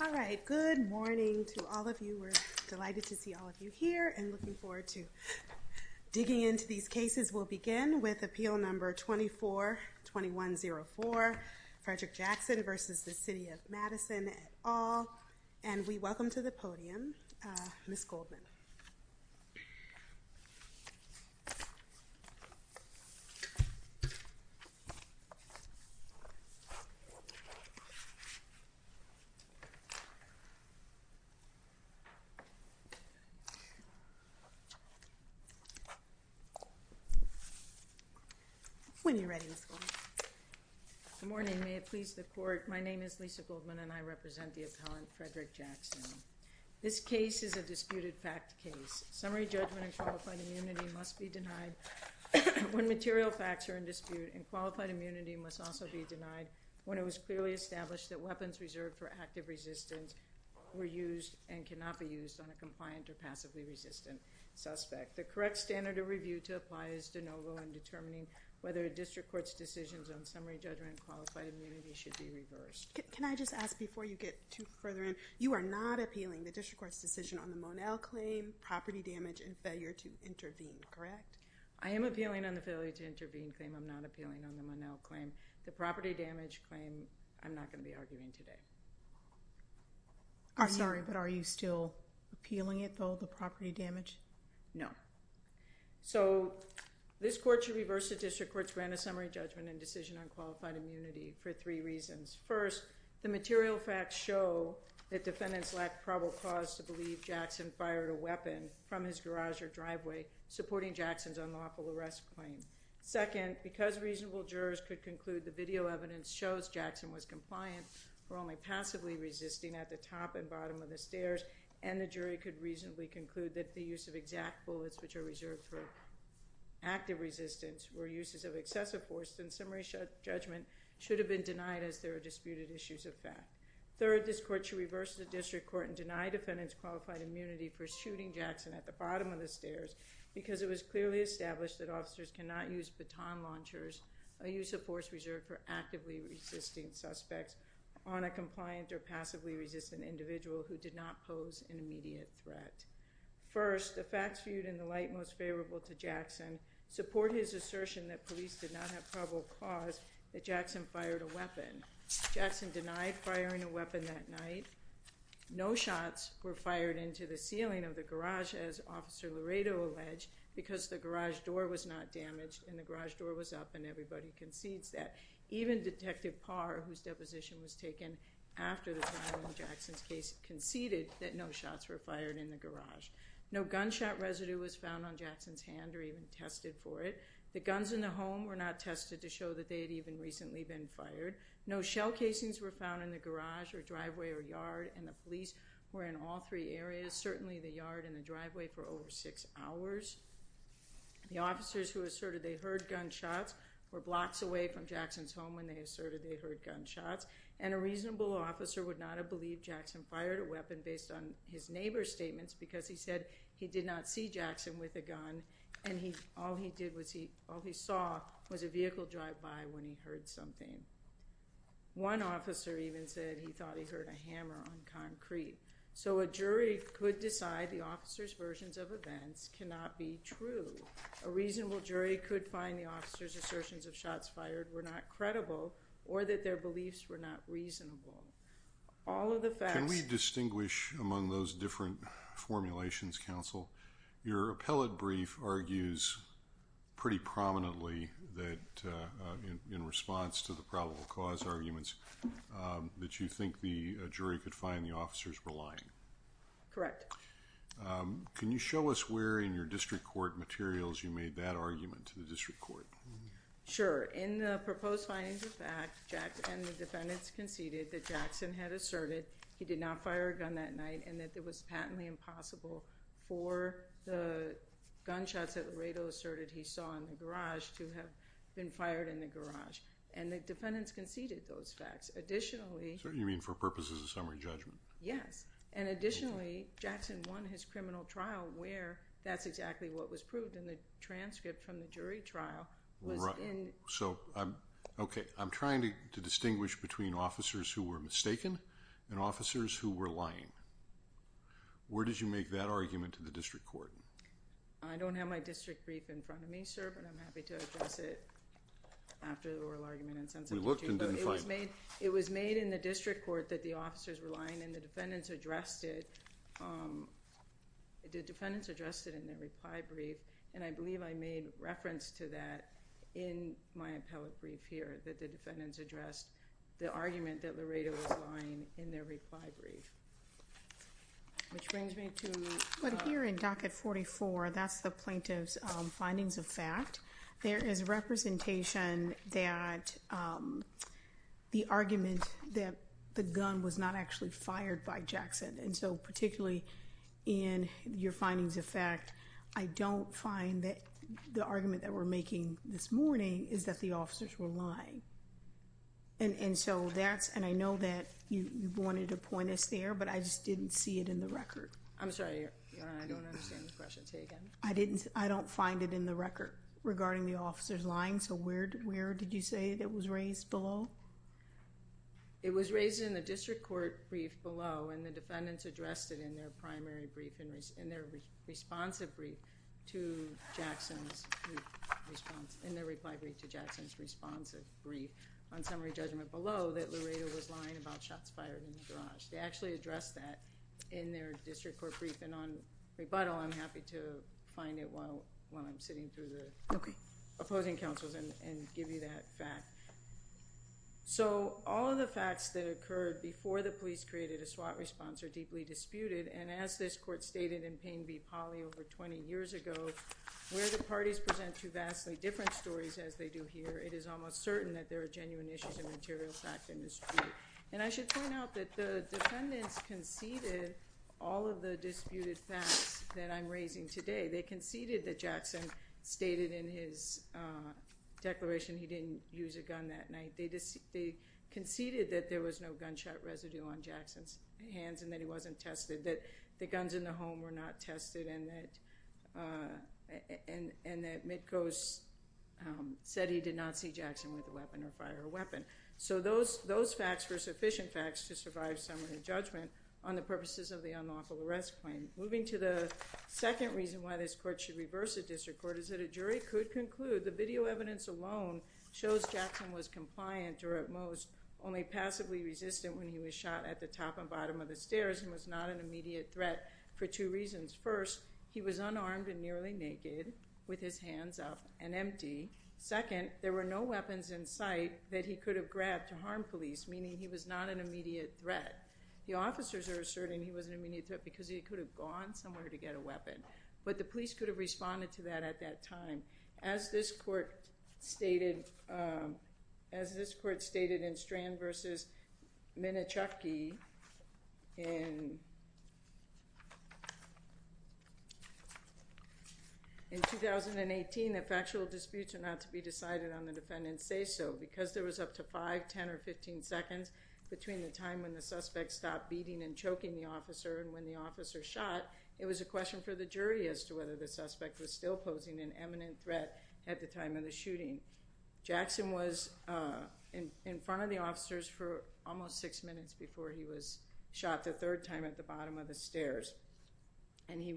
All right, good morning to all of you. We're delighted to see all of you here and looking forward to digging into these cases. We'll begin with Appeal Number 24-2104, Frederick Jackson. When you're ready, Ms. Goldman. Good morning. May it please the Court, my name is Lisa Goldman and I represent the appellant, Frederick Jackson. This case is a disputed fact case. Summary judgment and qualified immunity must be denied when material facts are in dispute and qualified immunity must also be denied when it was clearly established that weapons reserved for active resistance were used and cannot be used on a compliant or passively resistant suspect. The correct standard of review to apply is de novo in determining whether a district court's decisions on summary judgment and qualified immunity should be reversed. Can I just ask before you get too further in, you are not appealing the district court's decision on the Monell claim, property damage, and failure to intervene, correct? I am appealing on the failure to intervene claim, I'm not appealing on the Monell claim. The property damage claim, I'm not going to be arguing today. I'm sorry but are you still appealing it though, the property damage? No. So this court should reverse the district court's grant of summary judgment and decision on qualified immunity for three reasons. First, the material facts show that defendants lacked probable cause to believe Jackson fired a weapon from his garage or driveway supporting Jackson's unlawful arrest claim. Second, because reasonable jurors could conclude the video evidence shows Jackson was compliant for only passively resisting at the top and bottom of the stairs and the jury could reasonably conclude that the use of exact bullets which are reserved for active resistance were uses of excessive force, then summary judgment should have been denied as there are disputed issues of fact. Third, this court should reverse the district court and deny defendants qualified immunity for shooting Jackson at the bottom of the stairs because it was clearly established that officers cannot use baton launchers, a use of force reserved for actively resisting suspects on a compliant or passively resistant individual who did not pose an immediate threat. First, the facts viewed in the light most favorable to Jackson support his assertion that police did not have probable cause that Jackson fired a weapon. Jackson denied firing a weapon that night. No shots were fired into the ceiling of the garage as Officer Laredo alleged because the garage door was not damaged and the garage door was up and everybody concedes that. Even Detective Parr, whose deposition was taken after the trial in Jackson's case, conceded that no shots were fired in the garage. No gunshot residue was found on Jackson's hand or even tested for it. The guns in the home were not tested to show that they had even recently been fired. No shell casings were found in the garage or driveway or yard and the police were in all three areas, certainly the yard and the driveway for over six hours. The officers who asserted they heard gunshots were blocks away from Jackson's home when they asserted they heard gunshots and a reasonable officer would not have believed Jackson fired a weapon based on his neighbor's statements because he said he did not see Jackson with a gun and all he saw was a vehicle drive by when he heard something. One officer even said he thought he heard a hammer on concrete. So a jury could decide the officer's versions of events cannot be true. A reasonable jury could find the officer's assertions of shots fired were not credible or that their beliefs were not reasonable. All of the facts... Can we distinguish among those different formulations, counsel? Your appellate brief argues pretty prominently that in response to the probable cause arguments that you think the jury could find the officers were lying. Correct. Can you show us where in your district court materials you made that argument to the district court? Sure. In the proposed findings of fact, and the defendants conceded that Jackson had asserted he did not fire a gun that night and that it was patently impossible for the gunshots that Laredo asserted he saw in the garage to have been fired in the garage. And the defendants conceded those facts. Additionally... So you mean for purposes of summary judgment? Yes. And additionally, Jackson won his criminal trial where that's exactly what was proved in the transcript from the jury trial was in... Right. So I'm... Okay. I'm trying to distinguish between officers who were mistaken and officers who were lying. Where did you make that argument to the district court? I don't have my district brief in front of me, sir, but I'm happy to address it after the oral argument. We looked and didn't find it. It was made in the district court that the officers were lying and the defendants addressed it... The defendants addressed it in their reply brief and I believe I made reference to that in my appellate brief here that the defendants addressed the argument that Laredo was lying in their reply brief. Which brings me to... But here in docket 44, that's the plaintiff's findings of fact. There is representation that the argument that the gun was not actually fired by Jackson. And so particularly in your findings of fact, I don't find that the argument that we're making this morning is that the officers were lying. And so that's... And I know that you wanted to point us there, but I just didn't see it in the record. I'm sorry. I don't understand the question. Say again. I don't find it in the record regarding the officers lying. So where did you say that was raised below? It was raised in the district court brief below and the defendants addressed it in their primary brief, in their responsive brief to Jackson's response, in their reply brief to Jackson's responsive brief on summary judgment below that Laredo was lying about shots fired in the garage. They actually addressed that in their district court brief and on rebuttal, I'm happy to find it while I'm sitting through the opposing counsels and give you that fact. So all of the facts that occurred before the police created a SWAT response are deeply disputed and as this court stated in Payne v. Polley over 20 years ago, where the parties present two vastly different stories as they do here, it is almost certain that there are genuine issues of material fact in dispute. And I should point out that the defendants conceded all of the disputed facts that I'm raising today. They conceded that Jackson stated in his declaration he didn't use a gun that night. They conceded that there was no gunshot residue on Jackson's hands and that he wasn't tested, that the guns in the home were not tested and that Mitko said he did not see Jackson with a weapon or fire a weapon. So those facts were sufficient facts to survive summary judgment on the purposes of the unlawful arrest claim. Moving to the second reason why this court should reverse the district court is that a jury could conclude the video evidence alone shows Jackson was compliant or at most only passively resistant when he was shot at the top and bottom of the stairs and was not an immediate threat for two reasons. First, he was unarmed and nearly naked with his hands up and empty. Second, there were no weapons in sight that he could have grabbed to harm police, meaning he was not an immediate threat. The officers are asserting he was an immediate threat because he could have gone somewhere to get a weapon, but the police could have responded to that at that time. As this court stated in Strand v. Minachewki in 2018, that factual disputes are not to be decided on the defendant's say-so because there was up to 5, 10, or 15 seconds between the time when the suspect stopped beating and choking the officer and when the officer shot, it was a question for the jury as to whether the suspect was still posing an eminent threat at the time of the shooting. Jackson was in front of the officers for almost six minutes before he was shot the third time at the bottom of the stairs, and he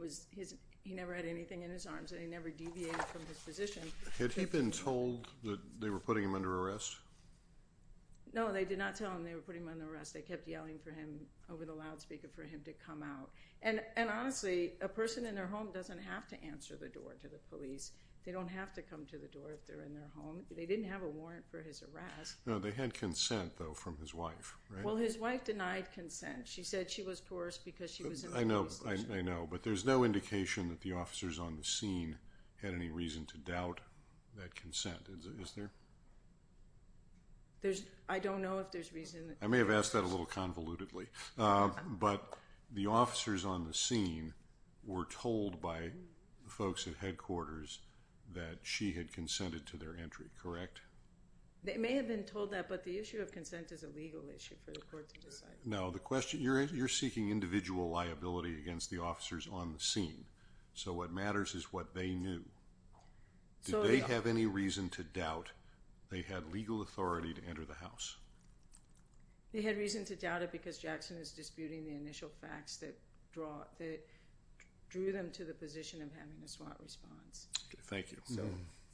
never had anything in his arms and he never deviated from his position. Had he been told that they were putting him under arrest? No, they did not tell him they were putting him under arrest. They kept yelling for him, over the loudspeaker, for him to come out. And honestly, a person in their home doesn't have to answer the door to the police. They don't have to come to the door if they're in their home. They didn't have a warrant for his arrest. No, they had consent, though, from his wife, right? Well, his wife denied consent. She said she was coerced because she was in the police station. I know, but there's no indication that the officers on the scene had any reason to doubt that consent, is there? I don't know if there's reason. I may have asked that a little convolutedly. But the officers on the scene were told by the folks at headquarters that she had consented to their entry, correct? They may have been told that, but the issue of consent is a legal issue for the court to decide. No, you're seeking individual liability against the officers on the scene. So what matters is what they knew. Did they have any reason to doubt they had legal authority to enter the house? They had reason to doubt it because Jackson was disputing the initial facts that drew them to the position of having a SWAT response. Thank you.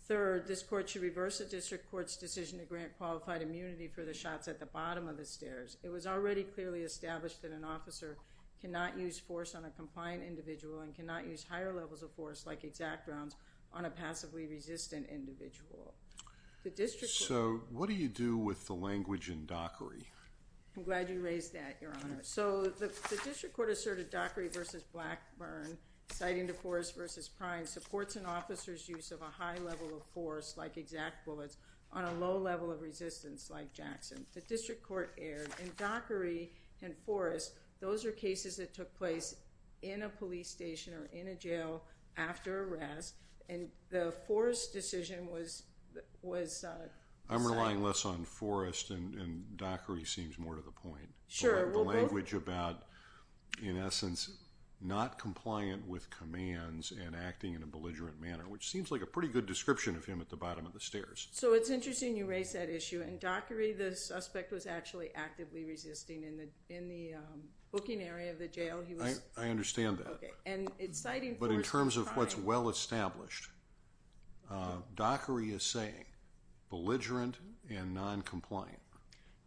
Third, this court should reverse the district court's decision to grant qualified immunity for the shots at the bottom of the stairs. It was already clearly established that an officer cannot use force on a compliant individual and cannot use higher levels of force, like exact rounds, on a passively resistant individual. So what do you do with the language in Dockery? I'm glad you raised that, Your Honor. So the district court asserted Dockery v. Blackburn, citing DeForest v. Prine, supports an officer's use of a high level of force, like exact bullets, on a low level of resistance, like Jackson. The district court erred, and Dockery and Forest, those are cases that took place in a police station or in a jail after arrest, and the Forest decision was decided. I'm relying less on Forest, and Dockery seems more to the point. Sure. The language about, in essence, not compliant with commands and acting in a belligerent manner, which seems like a pretty good description of him at the bottom of the stairs. So it's interesting you raise that issue. In Dockery, the suspect was actually actively resisting in the booking area of the jail. I understand that. But in terms of what's well established, Dockery is saying belligerent and noncompliant.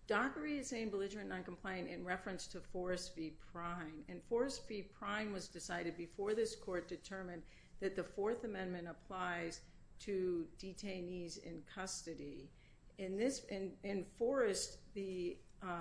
Dockery is saying belligerent and noncompliant in reference to Forest v. Prine, and Forest v. Prine was decided before this court determined that the Fourth Amendment applies to detainees in custody. In Forest, the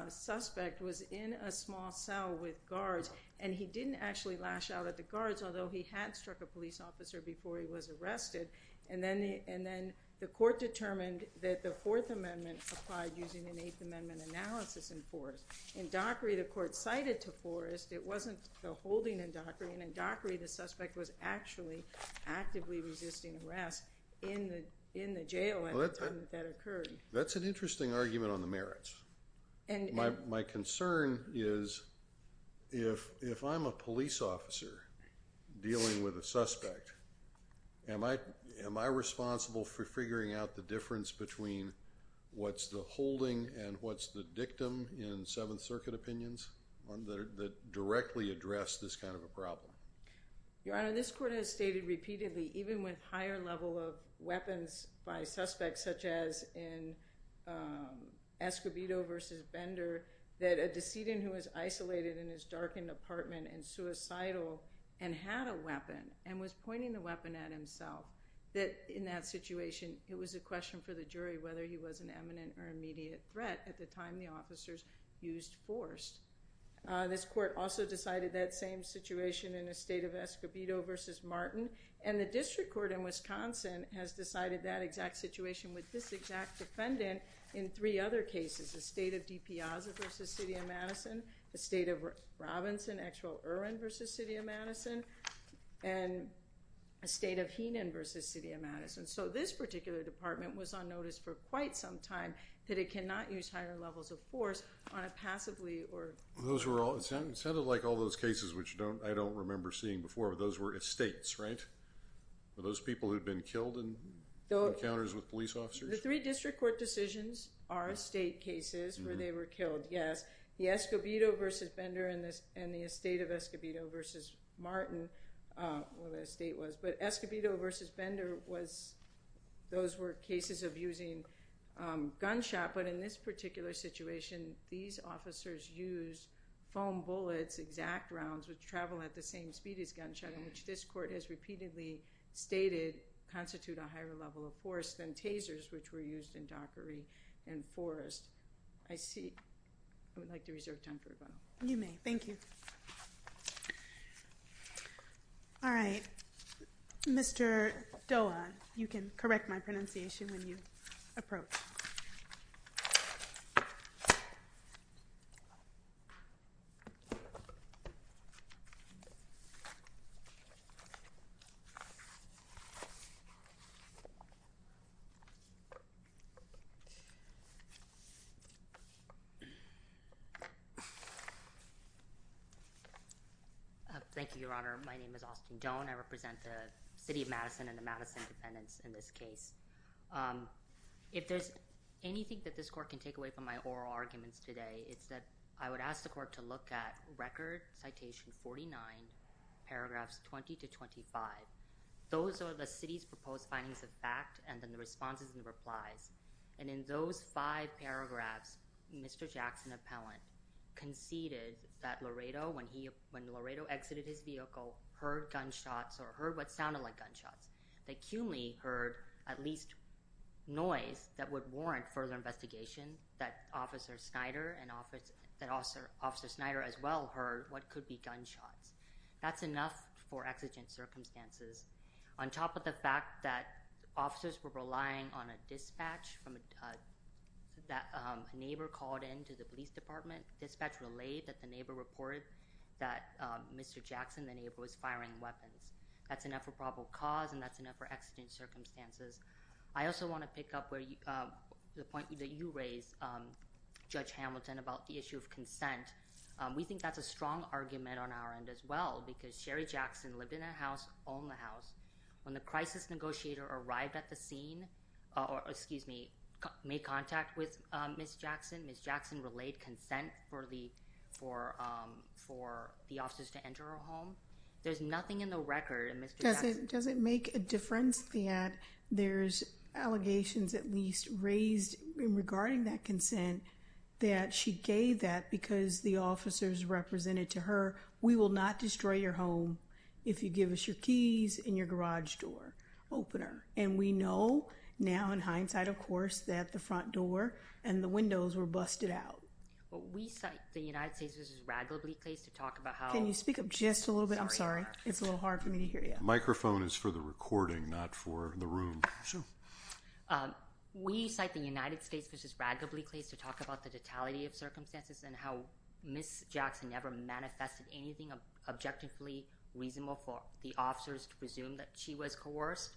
suspect was in a small cell with guards, and he didn't actually lash out at the guards, although he had struck a police officer before he was arrested, and then the court determined that the Fourth Amendment applied using an Eighth Amendment analysis in Forest. In Dockery, the court cited to Forest. It wasn't the holding in Dockery, and in Dockery, the suspect was actually actively resisting arrest in the jail at the time that that occurred. That's an interesting argument on the merits. My concern is if I'm a police officer dealing with a suspect, am I responsible for figuring out the difference between what's the holding and what's the dictum in Seventh Circuit opinions that directly address this kind of a problem? Your Honor, this court has stated repeatedly, even with higher level of weapons by suspects, such as in Escobedo v. Bender, that a decedent who was isolated in his darkened apartment and suicidal and had a weapon and was pointing the weapon at himself, that in that situation, it was a question for the jury whether he was an eminent or immediate threat at the time the officers used Forest. This court also decided that same situation in the state of Escobedo v. Martin, and the district court in Wisconsin has decided that exact situation with this exact defendant in three other cases, the state of DePiazza v. City of Madison, the state of Robinson v. City of Madison, and the state of Heenan v. City of Madison. So this particular department was on notice for quite some time that it cannot use higher levels of force on a passively or— Those were all—it sounded like all those cases, which I don't remember seeing before, but those were estates, right? Were those people who'd been killed in encounters with police officers? The three district court decisions are estate cases where they were killed, yes. The Escobedo v. Bender and the estate of Escobedo v. Martin, where the estate was, but Escobedo v. Bender was—those were cases of using gunshot, but in this particular situation, these officers used foam bullets, exact rounds, which travel at the same speed as gunshot, and which this court has repeatedly stated constitute a higher level of force than tasers, which were used in Dockery and Forest. I see—I would like to reserve time for a vote. You may. Thank you. All right. Mr. Doa, you can correct my pronunciation when you approach. Thank you, Your Honor. My name is Austin Doan. I represent the City of Madison and the Madison dependents in this case. If there's anything that this court can take away from my oral arguments today, it's that I would ask the court to look at Record Citation 49, paragraphs 20 to 25. Those are the city's proposed findings of fact and then the responses and replies. And in those five paragraphs, Mr. Jackson, appellant, conceded that Laredo, when Laredo exited his vehicle, heard gunshots or heard what sounded like gunshots. They acutely heard at least noise that would warrant further investigation, that Officer Snyder as well heard what could be gunshots. That's enough for exigent circumstances. On top of the fact that officers were relying on a dispatch from— that a neighbor called in to the police department, dispatch relayed that the neighbor reported that Mr. Jackson, the neighbor, was firing weapons. That's enough for probable cause and that's enough for exigent circumstances. I also want to pick up the point that you raised, Judge Hamilton, about the issue of consent. We think that's a strong argument on our end as well because Sherry Jackson lived in a house, owned a house. When the crisis negotiator arrived at the scene— excuse me, made contact with Ms. Jackson, Ms. Jackson relayed consent for the officers to enter her home. There's nothing in the record that Mr. Jackson— Does it make a difference that there's allegations at least raised regarding that consent that she gave that because the officers represented to her, we will not destroy your home if you give us your keys and your garage door opener. And we know now in hindsight, of course, that the front door and the windows were busted out. We cite the United States v. Radcliffe to talk about how— Can you speak up just a little bit? I'm sorry. It's a little hard for me to hear you. The microphone is for the recording, not for the room. We cite the United States v. Radcliffe to talk about the totality of circumstances and how Ms. Jackson never manifested anything objectively reasonable for the officers to presume that she was coerced.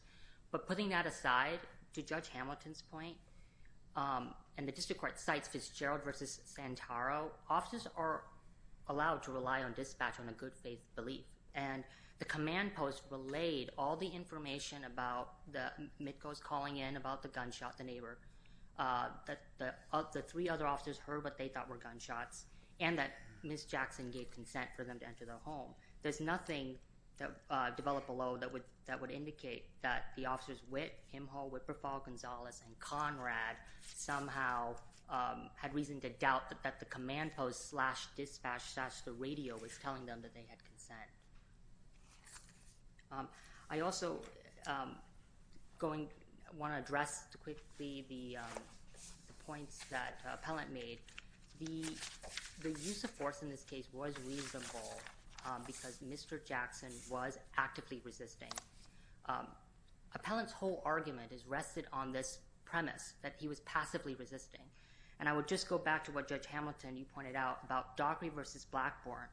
But putting that aside, to Judge Hamilton's point, and the district court cites Fitzgerald v. Santoro, officers are allowed to rely on dispatch on a good faith belief. And the command post relayed all the information about the MITCOs calling in, about the gunshot, the neighbor, that the three other officers heard what they thought were gunshots, and that Ms. Jackson gave consent for them to enter the home. There's nothing developed below that would indicate that the officers, Witt, Himhol, Whipperfall, Gonzalez, and Conrad, somehow had reason to doubt that the command post slash dispatch slash the radio was telling them that they had consent. I also want to address quickly the points that Appellant made. The use of force in this case was reasonable because Mr. Jackson was actively resisting. Appellant's whole argument has rested on this premise that he was passively resisting. And I would just go back to what Judge Hamilton, you pointed out, about Dockery v. Blackburn.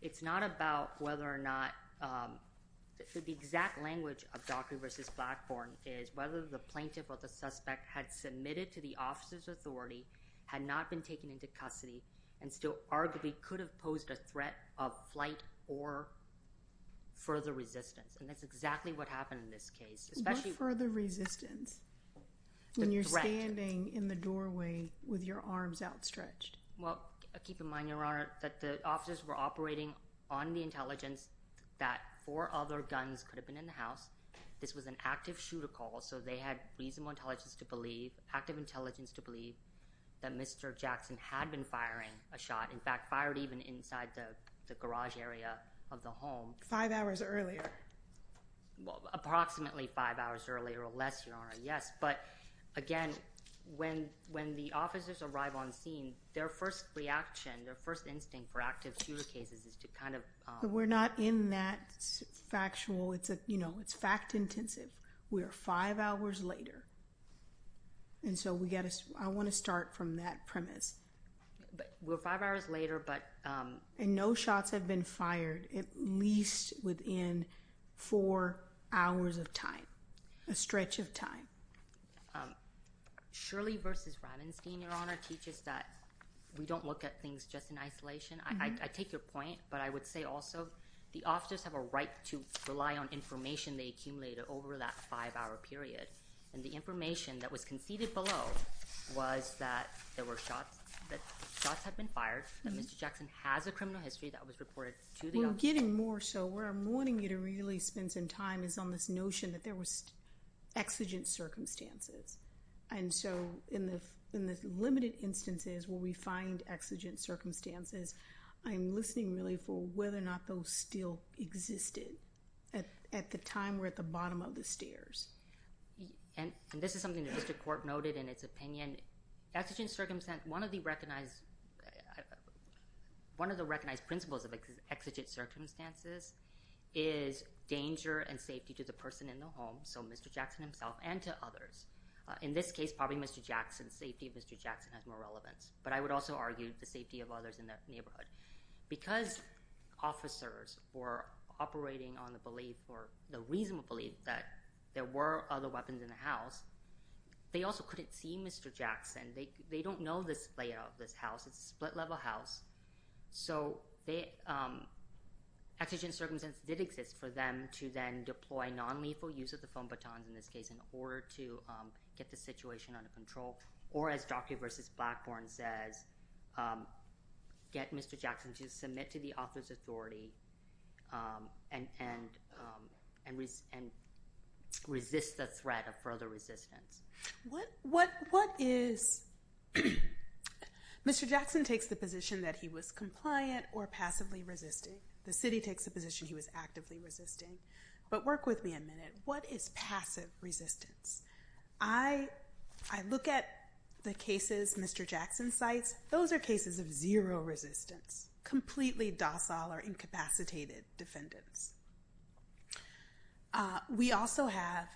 It's not about whether or not the exact language of Dockery v. Blackburn is whether the plaintiff or the suspect had submitted to the officer's authority, had not been taken into custody, and still arguably could have posed a threat of flight or further resistance. And that's exactly what happened in this case. What further resistance? The threat. When you're standing in the doorway with your arms outstretched. Well, keep in mind, Your Honor, that the officers were operating on the intelligence that four other guns could have been in the house. This was an active shooter call, so they had reasonable intelligence to believe, that Mr. Jackson had been firing a shot. In fact, fired even inside the garage area of the home. Five hours earlier. Approximately five hours earlier or less, Your Honor, yes. But again, when the officers arrive on scene, their first reaction, their first instinct for active shooter cases is to kind of— We're not in that factual—it's fact-intensive. We are five hours later. And so we've got to—I want to start from that premise. We're five hours later, but— And no shots have been fired at least within four hours of time. A stretch of time. Shirley versus Ravenstein, Your Honor, teaches that we don't look at things just in isolation. I take your point, but I would say also the officers have a right to rely on information they accumulated over that five-hour period. And the information that was conceded below was that there were shots, that shots had been fired, that Mr. Jackson has a criminal history that was reported to the officers. Well, I'm getting more so where I'm wanting you to really spend some time is on this notion that there was exigent circumstances. And so in the limited instances where we find exigent circumstances, I'm listening really for whether or not those still existed at the time we're at the bottom of the stairs. And this is something the district court noted in its opinion. Exigent circumstance, one of the recognized— one of the recognized principles of exigent circumstances is danger and safety to the person in the home, so Mr. Jackson himself, and to others. In this case, probably Mr. Jackson's safety, Mr. Jackson has more relevance. But I would also argue the safety of others in the neighborhood. Because officers were operating on the belief or the reasonable belief that there were other weapons in the house, they also couldn't see Mr. Jackson. They don't know this layout of this house. It's a split-level house. So exigent circumstances did exist for them to then deploy nonlethal use of the phone batons in this case in order to get the situation under control, or as Dr. versus Blackburn says, get Mr. Jackson to submit to the author's authority and resist the threat of further resistance. What is—Mr. Jackson takes the position that he was compliant or passively resisting. The city takes the position he was actively resisting. But work with me a minute. What is passive resistance? I look at the cases Mr. Jackson cites. Those are cases of zero resistance, completely docile or incapacitated defendants. We also have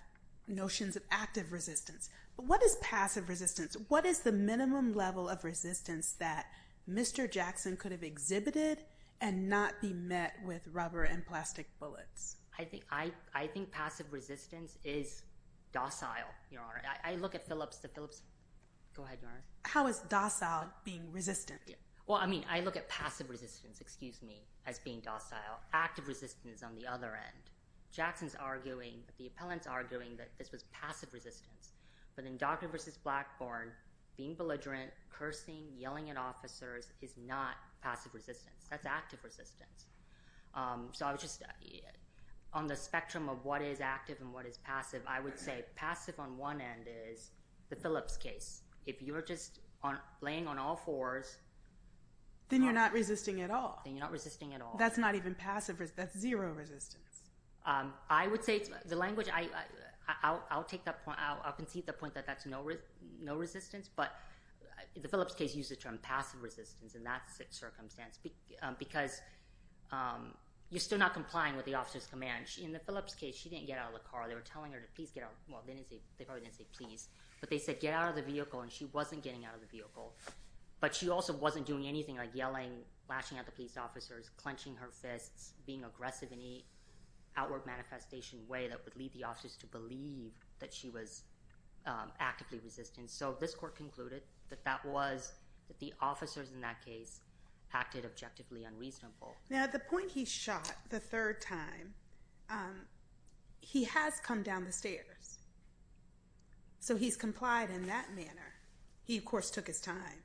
notions of active resistance. But what is passive resistance? What is the minimum level of resistance that Mr. Jackson could have exhibited and not be met with rubber and plastic bullets? I think passive resistance is docile, Your Honor. I look at Phillips—go ahead, Your Honor. How is docile being resistant? Well, I mean, I look at passive resistance, excuse me, as being docile. Active resistance on the other end. Jackson's arguing, the appellant's arguing that this was passive resistance. But in Dr. versus Blackburn, being belligerent, cursing, yelling at officers is not passive resistance. That's active resistance. So I was just—on the spectrum of what is active and what is passive, I would say passive on one end is the Phillips case. If you're just laying on all fours— Then you're not resisting at all. Then you're not resisting at all. That's not even passive. That's zero resistance. I would say the language—I'll take that point. I'll concede the point that that's no resistance. But the Phillips case uses the term passive resistance, and that's a circumstance because you're still not complying with the officer's command. In the Phillips case, she didn't get out of the car. They were telling her to please get out—well, they probably didn't say please. But they said get out of the vehicle, and she wasn't getting out of the vehicle. But she also wasn't doing anything like yelling, lashing at the police officers, clenching her fists, being aggressive in any outward manifestation way that would lead the officers to believe that she was actively resistant. And so this court concluded that that was—that the officers in that case acted objectively unreasonable. Now, at the point he shot the third time, he has come down the stairs. So he's complied in that manner. He, of course, took his time.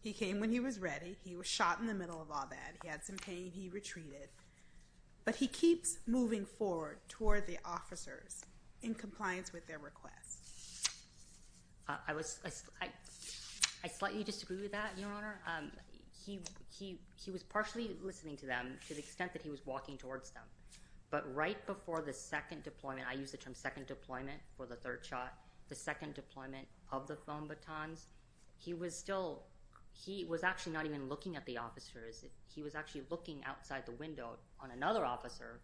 He came when he was ready. He was shot in the middle of all that. He had some pain. He retreated. But he keeps moving forward toward the officers in compliance with their request. I was—I slightly disagree with that, Your Honor. He was partially listening to them to the extent that he was walking towards them. But right before the second deployment—I use the term second deployment for the third shot— the second deployment of the phone batons, he was still—he was actually not even looking at the officers. He was actually looking outside the window on another officer,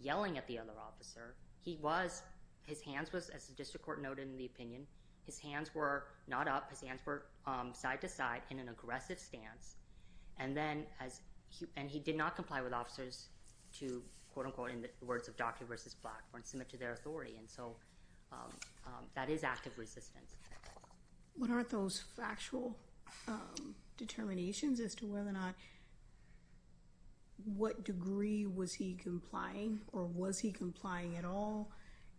yelling at the other officer. He was—his hands was, as the district court noted in the opinion, his hands were not up. His hands were side to side in an aggressive stance. And then as—and he did not comply with officers to, quote-unquote, in the words of Docky versus Blackburn, submit to their authority. And so that is active resistance. What are those factual determinations as to whether or not—what degree was he complying or was he complying at all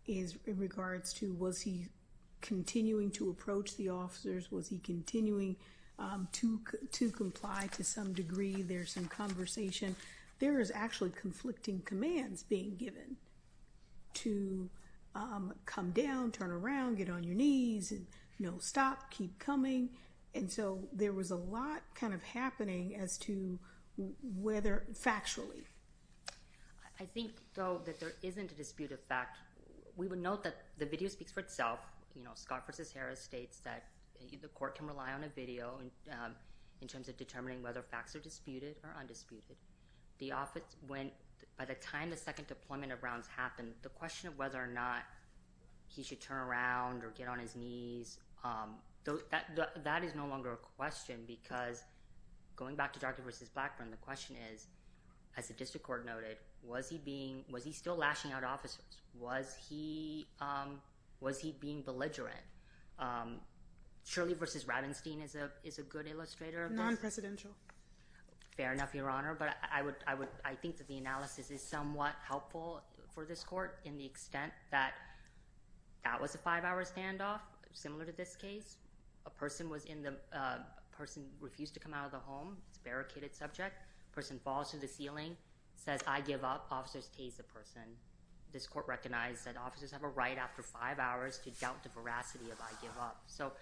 in regards to was he continuing to approach the officers? Was he continuing to comply to some degree? There's some conversation. There is actually conflicting commands being given to come down, turn around, get on your knees, and, you know, stop, keep coming. And so there was a lot kind of happening as to whether factually. I think, though, that there isn't a dispute of fact. We would note that the video speaks for itself. You know, Scott versus Harris states that the court can rely on a video in terms of determining whether facts are disputed or undisputed. The office went—by the time the second deployment of rounds happened, the question of whether or not he should turn around or get on his knees, that is no longer a question because going back to Docky versus Blackburn, the question is, as the district court noted, was he still lashing out officers? Was he being belligerent? Shirley versus Rabenstein is a good illustrator of this. Non-presidential. Fair enough, Your Honor, but I think that the analysis is somewhat helpful for this court in the extent that that was a five-hour standoff, similar to this case. A person was in the—a person refused to come out of the home. It's a barricaded subject. A person falls to the ceiling, says, I give up, officers tase the person. This court recognized that officers have a right after five hours to doubt the veracity of I give up. So,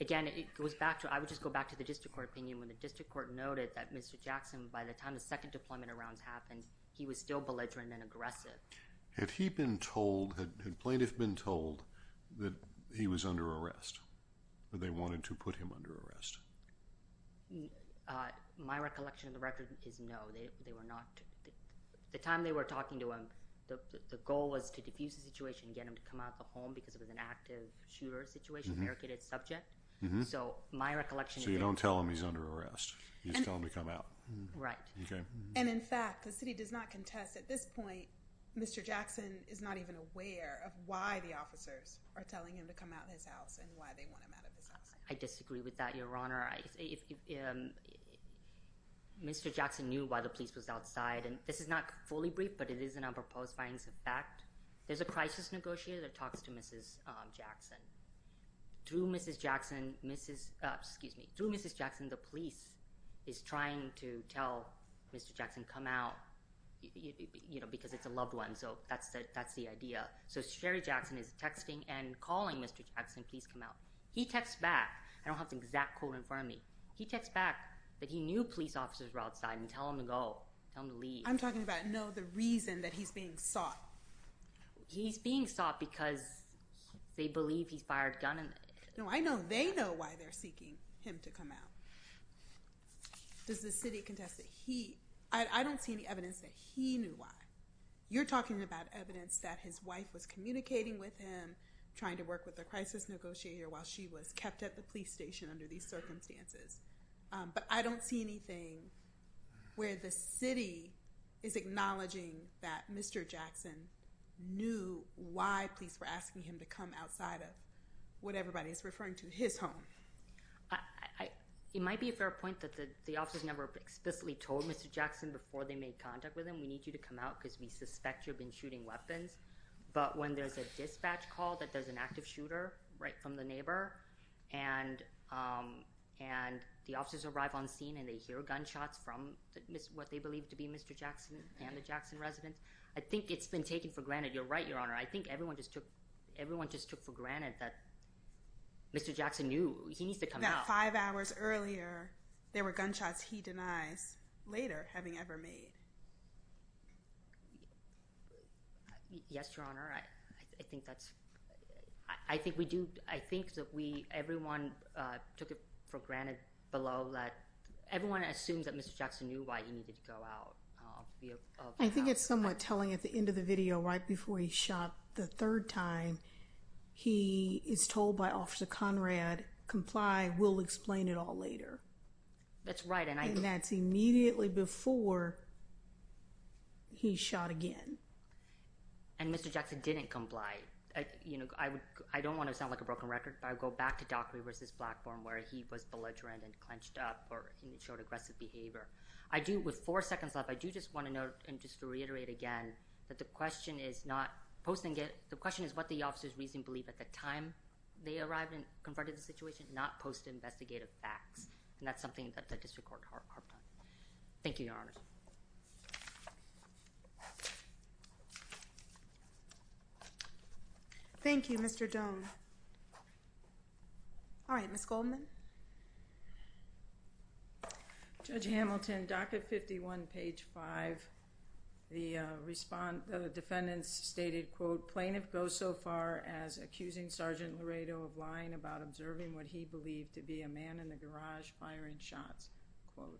again, it goes back to—I would just go back to the district court opinion when the district court noted that Mr. Jackson, by the time the second deployment of rounds happened, he was still belligerent and aggressive. Had he been told—had plaintiff been told that he was under arrest, or they wanted to put him under arrest? My recollection of the record is no. They were not—at the time they were talking to him, the goal was to defuse the situation and get him to come out of the home because it was an active shooter situation, barricaded subject. So, my recollection is— So, you don't tell him he's under arrest. You just tell him to come out. Right. And, in fact, the city does not contest at this point, Mr. Jackson is not even aware of why the officers are telling him to come out of his house and why they want him out of his house. I disagree with that, Your Honor. Mr. Jackson knew why the police was outside, and this is not fully briefed, but it is in our proposed findings of fact. There's a crisis negotiator that talks to Mrs. Jackson. Through Mrs. Jackson, the police is trying to tell Mr. Jackson come out because it's a loved one. So, that's the idea. So, Sherry Jackson is texting and calling Mr. Jackson, please come out. He texts back—I don't have the exact quote in front of me. He texts back that he knew police officers were outside and tell him to go, tell him to leave. I'm talking about, no, the reason that he's being sought. He's being sought because they believe he fired a gun. No, I know they know why they're seeking him to come out. Does the city contest that he—I don't see any evidence that he knew why. You're talking about evidence that his wife was communicating with him, trying to work with the crisis negotiator while she was kept at the police station under these circumstances. But I don't see anything where the city is acknowledging that Mr. Jackson knew why police were asking him to come outside of what everybody is referring to, his home. It might be a fair point that the officers never explicitly told Mr. Jackson before they made contact with him, we need you to come out because we suspect you've been shooting weapons. But when there's a dispatch call that there's an active shooter right from the neighbor and the officers arrive on scene and they hear gunshots from what they believe to be Mr. Jackson and the Jackson residence, I think it's been taken for granted. You're right, Your Honor. I think everyone just took for granted that Mr. Jackson knew he needs to come out. About five hours earlier, there were gunshots he denies later having ever made. Yes, Your Honor. I think that's, I think we do, I think that we, everyone took it for granted below that. Everyone assumes that Mr. Jackson knew why he needed to go out. I think it's somewhat telling at the end of the video right before he shot the third time, he is told by Officer Conrad, comply, we'll explain it all later. That's right. And that's immediately before he shot again. And Mr. Jackson didn't comply. You know, I would, I don't want to sound like a broken record, but I go back to Doc Rivers' platform where he was belligerent and clenched up or showed aggressive behavior. I do, with four seconds left, I do just want to note and just reiterate again that the question is not, posting it, the question is what the officer's reasoning believed at the time they arrived and confronted the situation, not post-investigative facts. And that's something that the district court harped on. Thank you, Your Honor. Thank you, Mr. Doan. All right, Ms. Goldman. Judge Hamilton, docket 51, page 5. The defendants stated, quote, plaintiff goes so far as accusing Sergeant Laredo of lying about observing what he believed to be a man in the garage firing shots, quote.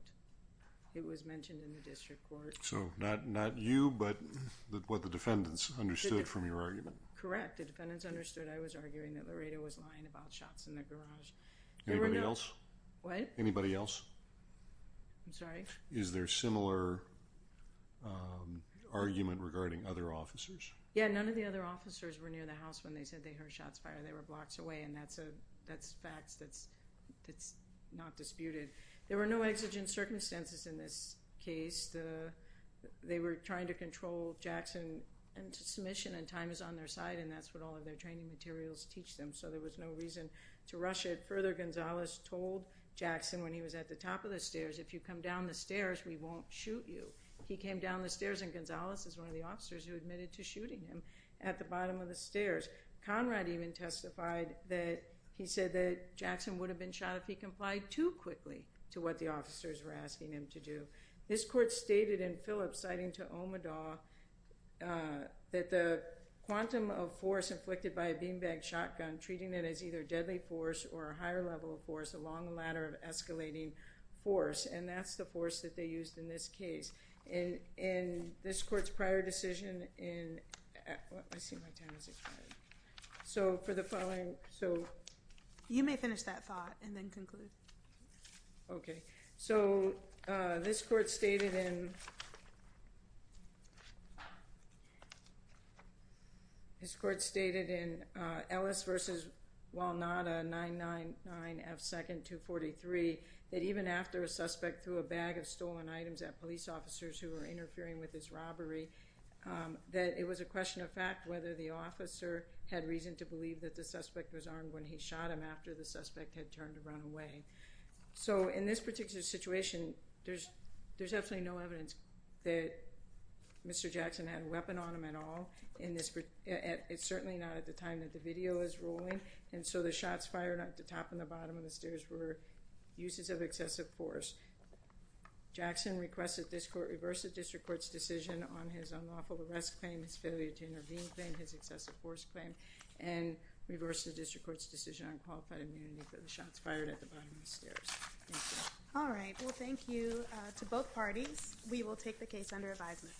It was mentioned in the district court. So not you, but what the defendants understood from your argument. Correct. The defendants understood I was arguing that Laredo was lying about shots in the garage. Anybody else? What? Anybody else? I'm sorry? Is there similar argument regarding other officers? Yeah, none of the other officers were near the house when they said they heard shots fired. They were blocks away, and that's facts that's not disputed. There were no exigent circumstances in this case. They were trying to control Jackson into submission, and time is on their side, and that's what all of their training materials teach them. So there was no reason to rush it. Further, Gonzales told Jackson when he was at the top of the stairs, if you come down the stairs, we won't shoot you. He came down the stairs, and Gonzales is one of the officers who admitted to shooting him at the bottom of the stairs. Conrad even testified that he said that Jackson would have been shot if he complied too quickly to what the officers were asking him to do. This court stated in Phillips, citing to Omadaw, that the quantum of force inflicted by a beanbag shotgun, treating it as either deadly force or a higher level of force along the ladder of escalating force, and that's the force that they used in this case. In this court's prior decision in, I see my time is expiring. So for the following, so. You may finish that thought and then conclude. Okay. So this court stated in Ellis v. Walnada, 999 F. 2nd, 243, that even after a suspect threw a bag of stolen items at police officers who were interfering with his robbery, that it was a question of fact whether the officer had reason to believe that the suspect was armed when he shot him after the suspect had turned to run away. So in this particular situation, there's absolutely no evidence that Mr. Jackson had a weapon on him at all. It's certainly not at the time that the video is rolling, and so the shots fired at the top and the bottom of the stairs were uses of excessive force. Jackson requested this court reverse the district court's decision on his unlawful arrest claim, his failure to intervene claim, his excessive force claim, and reverse the district court's decision on qualified immunity for the shots fired at the bottom of the stairs. Thank you. All right. Well, thank you to both parties. We will take the case under advisement.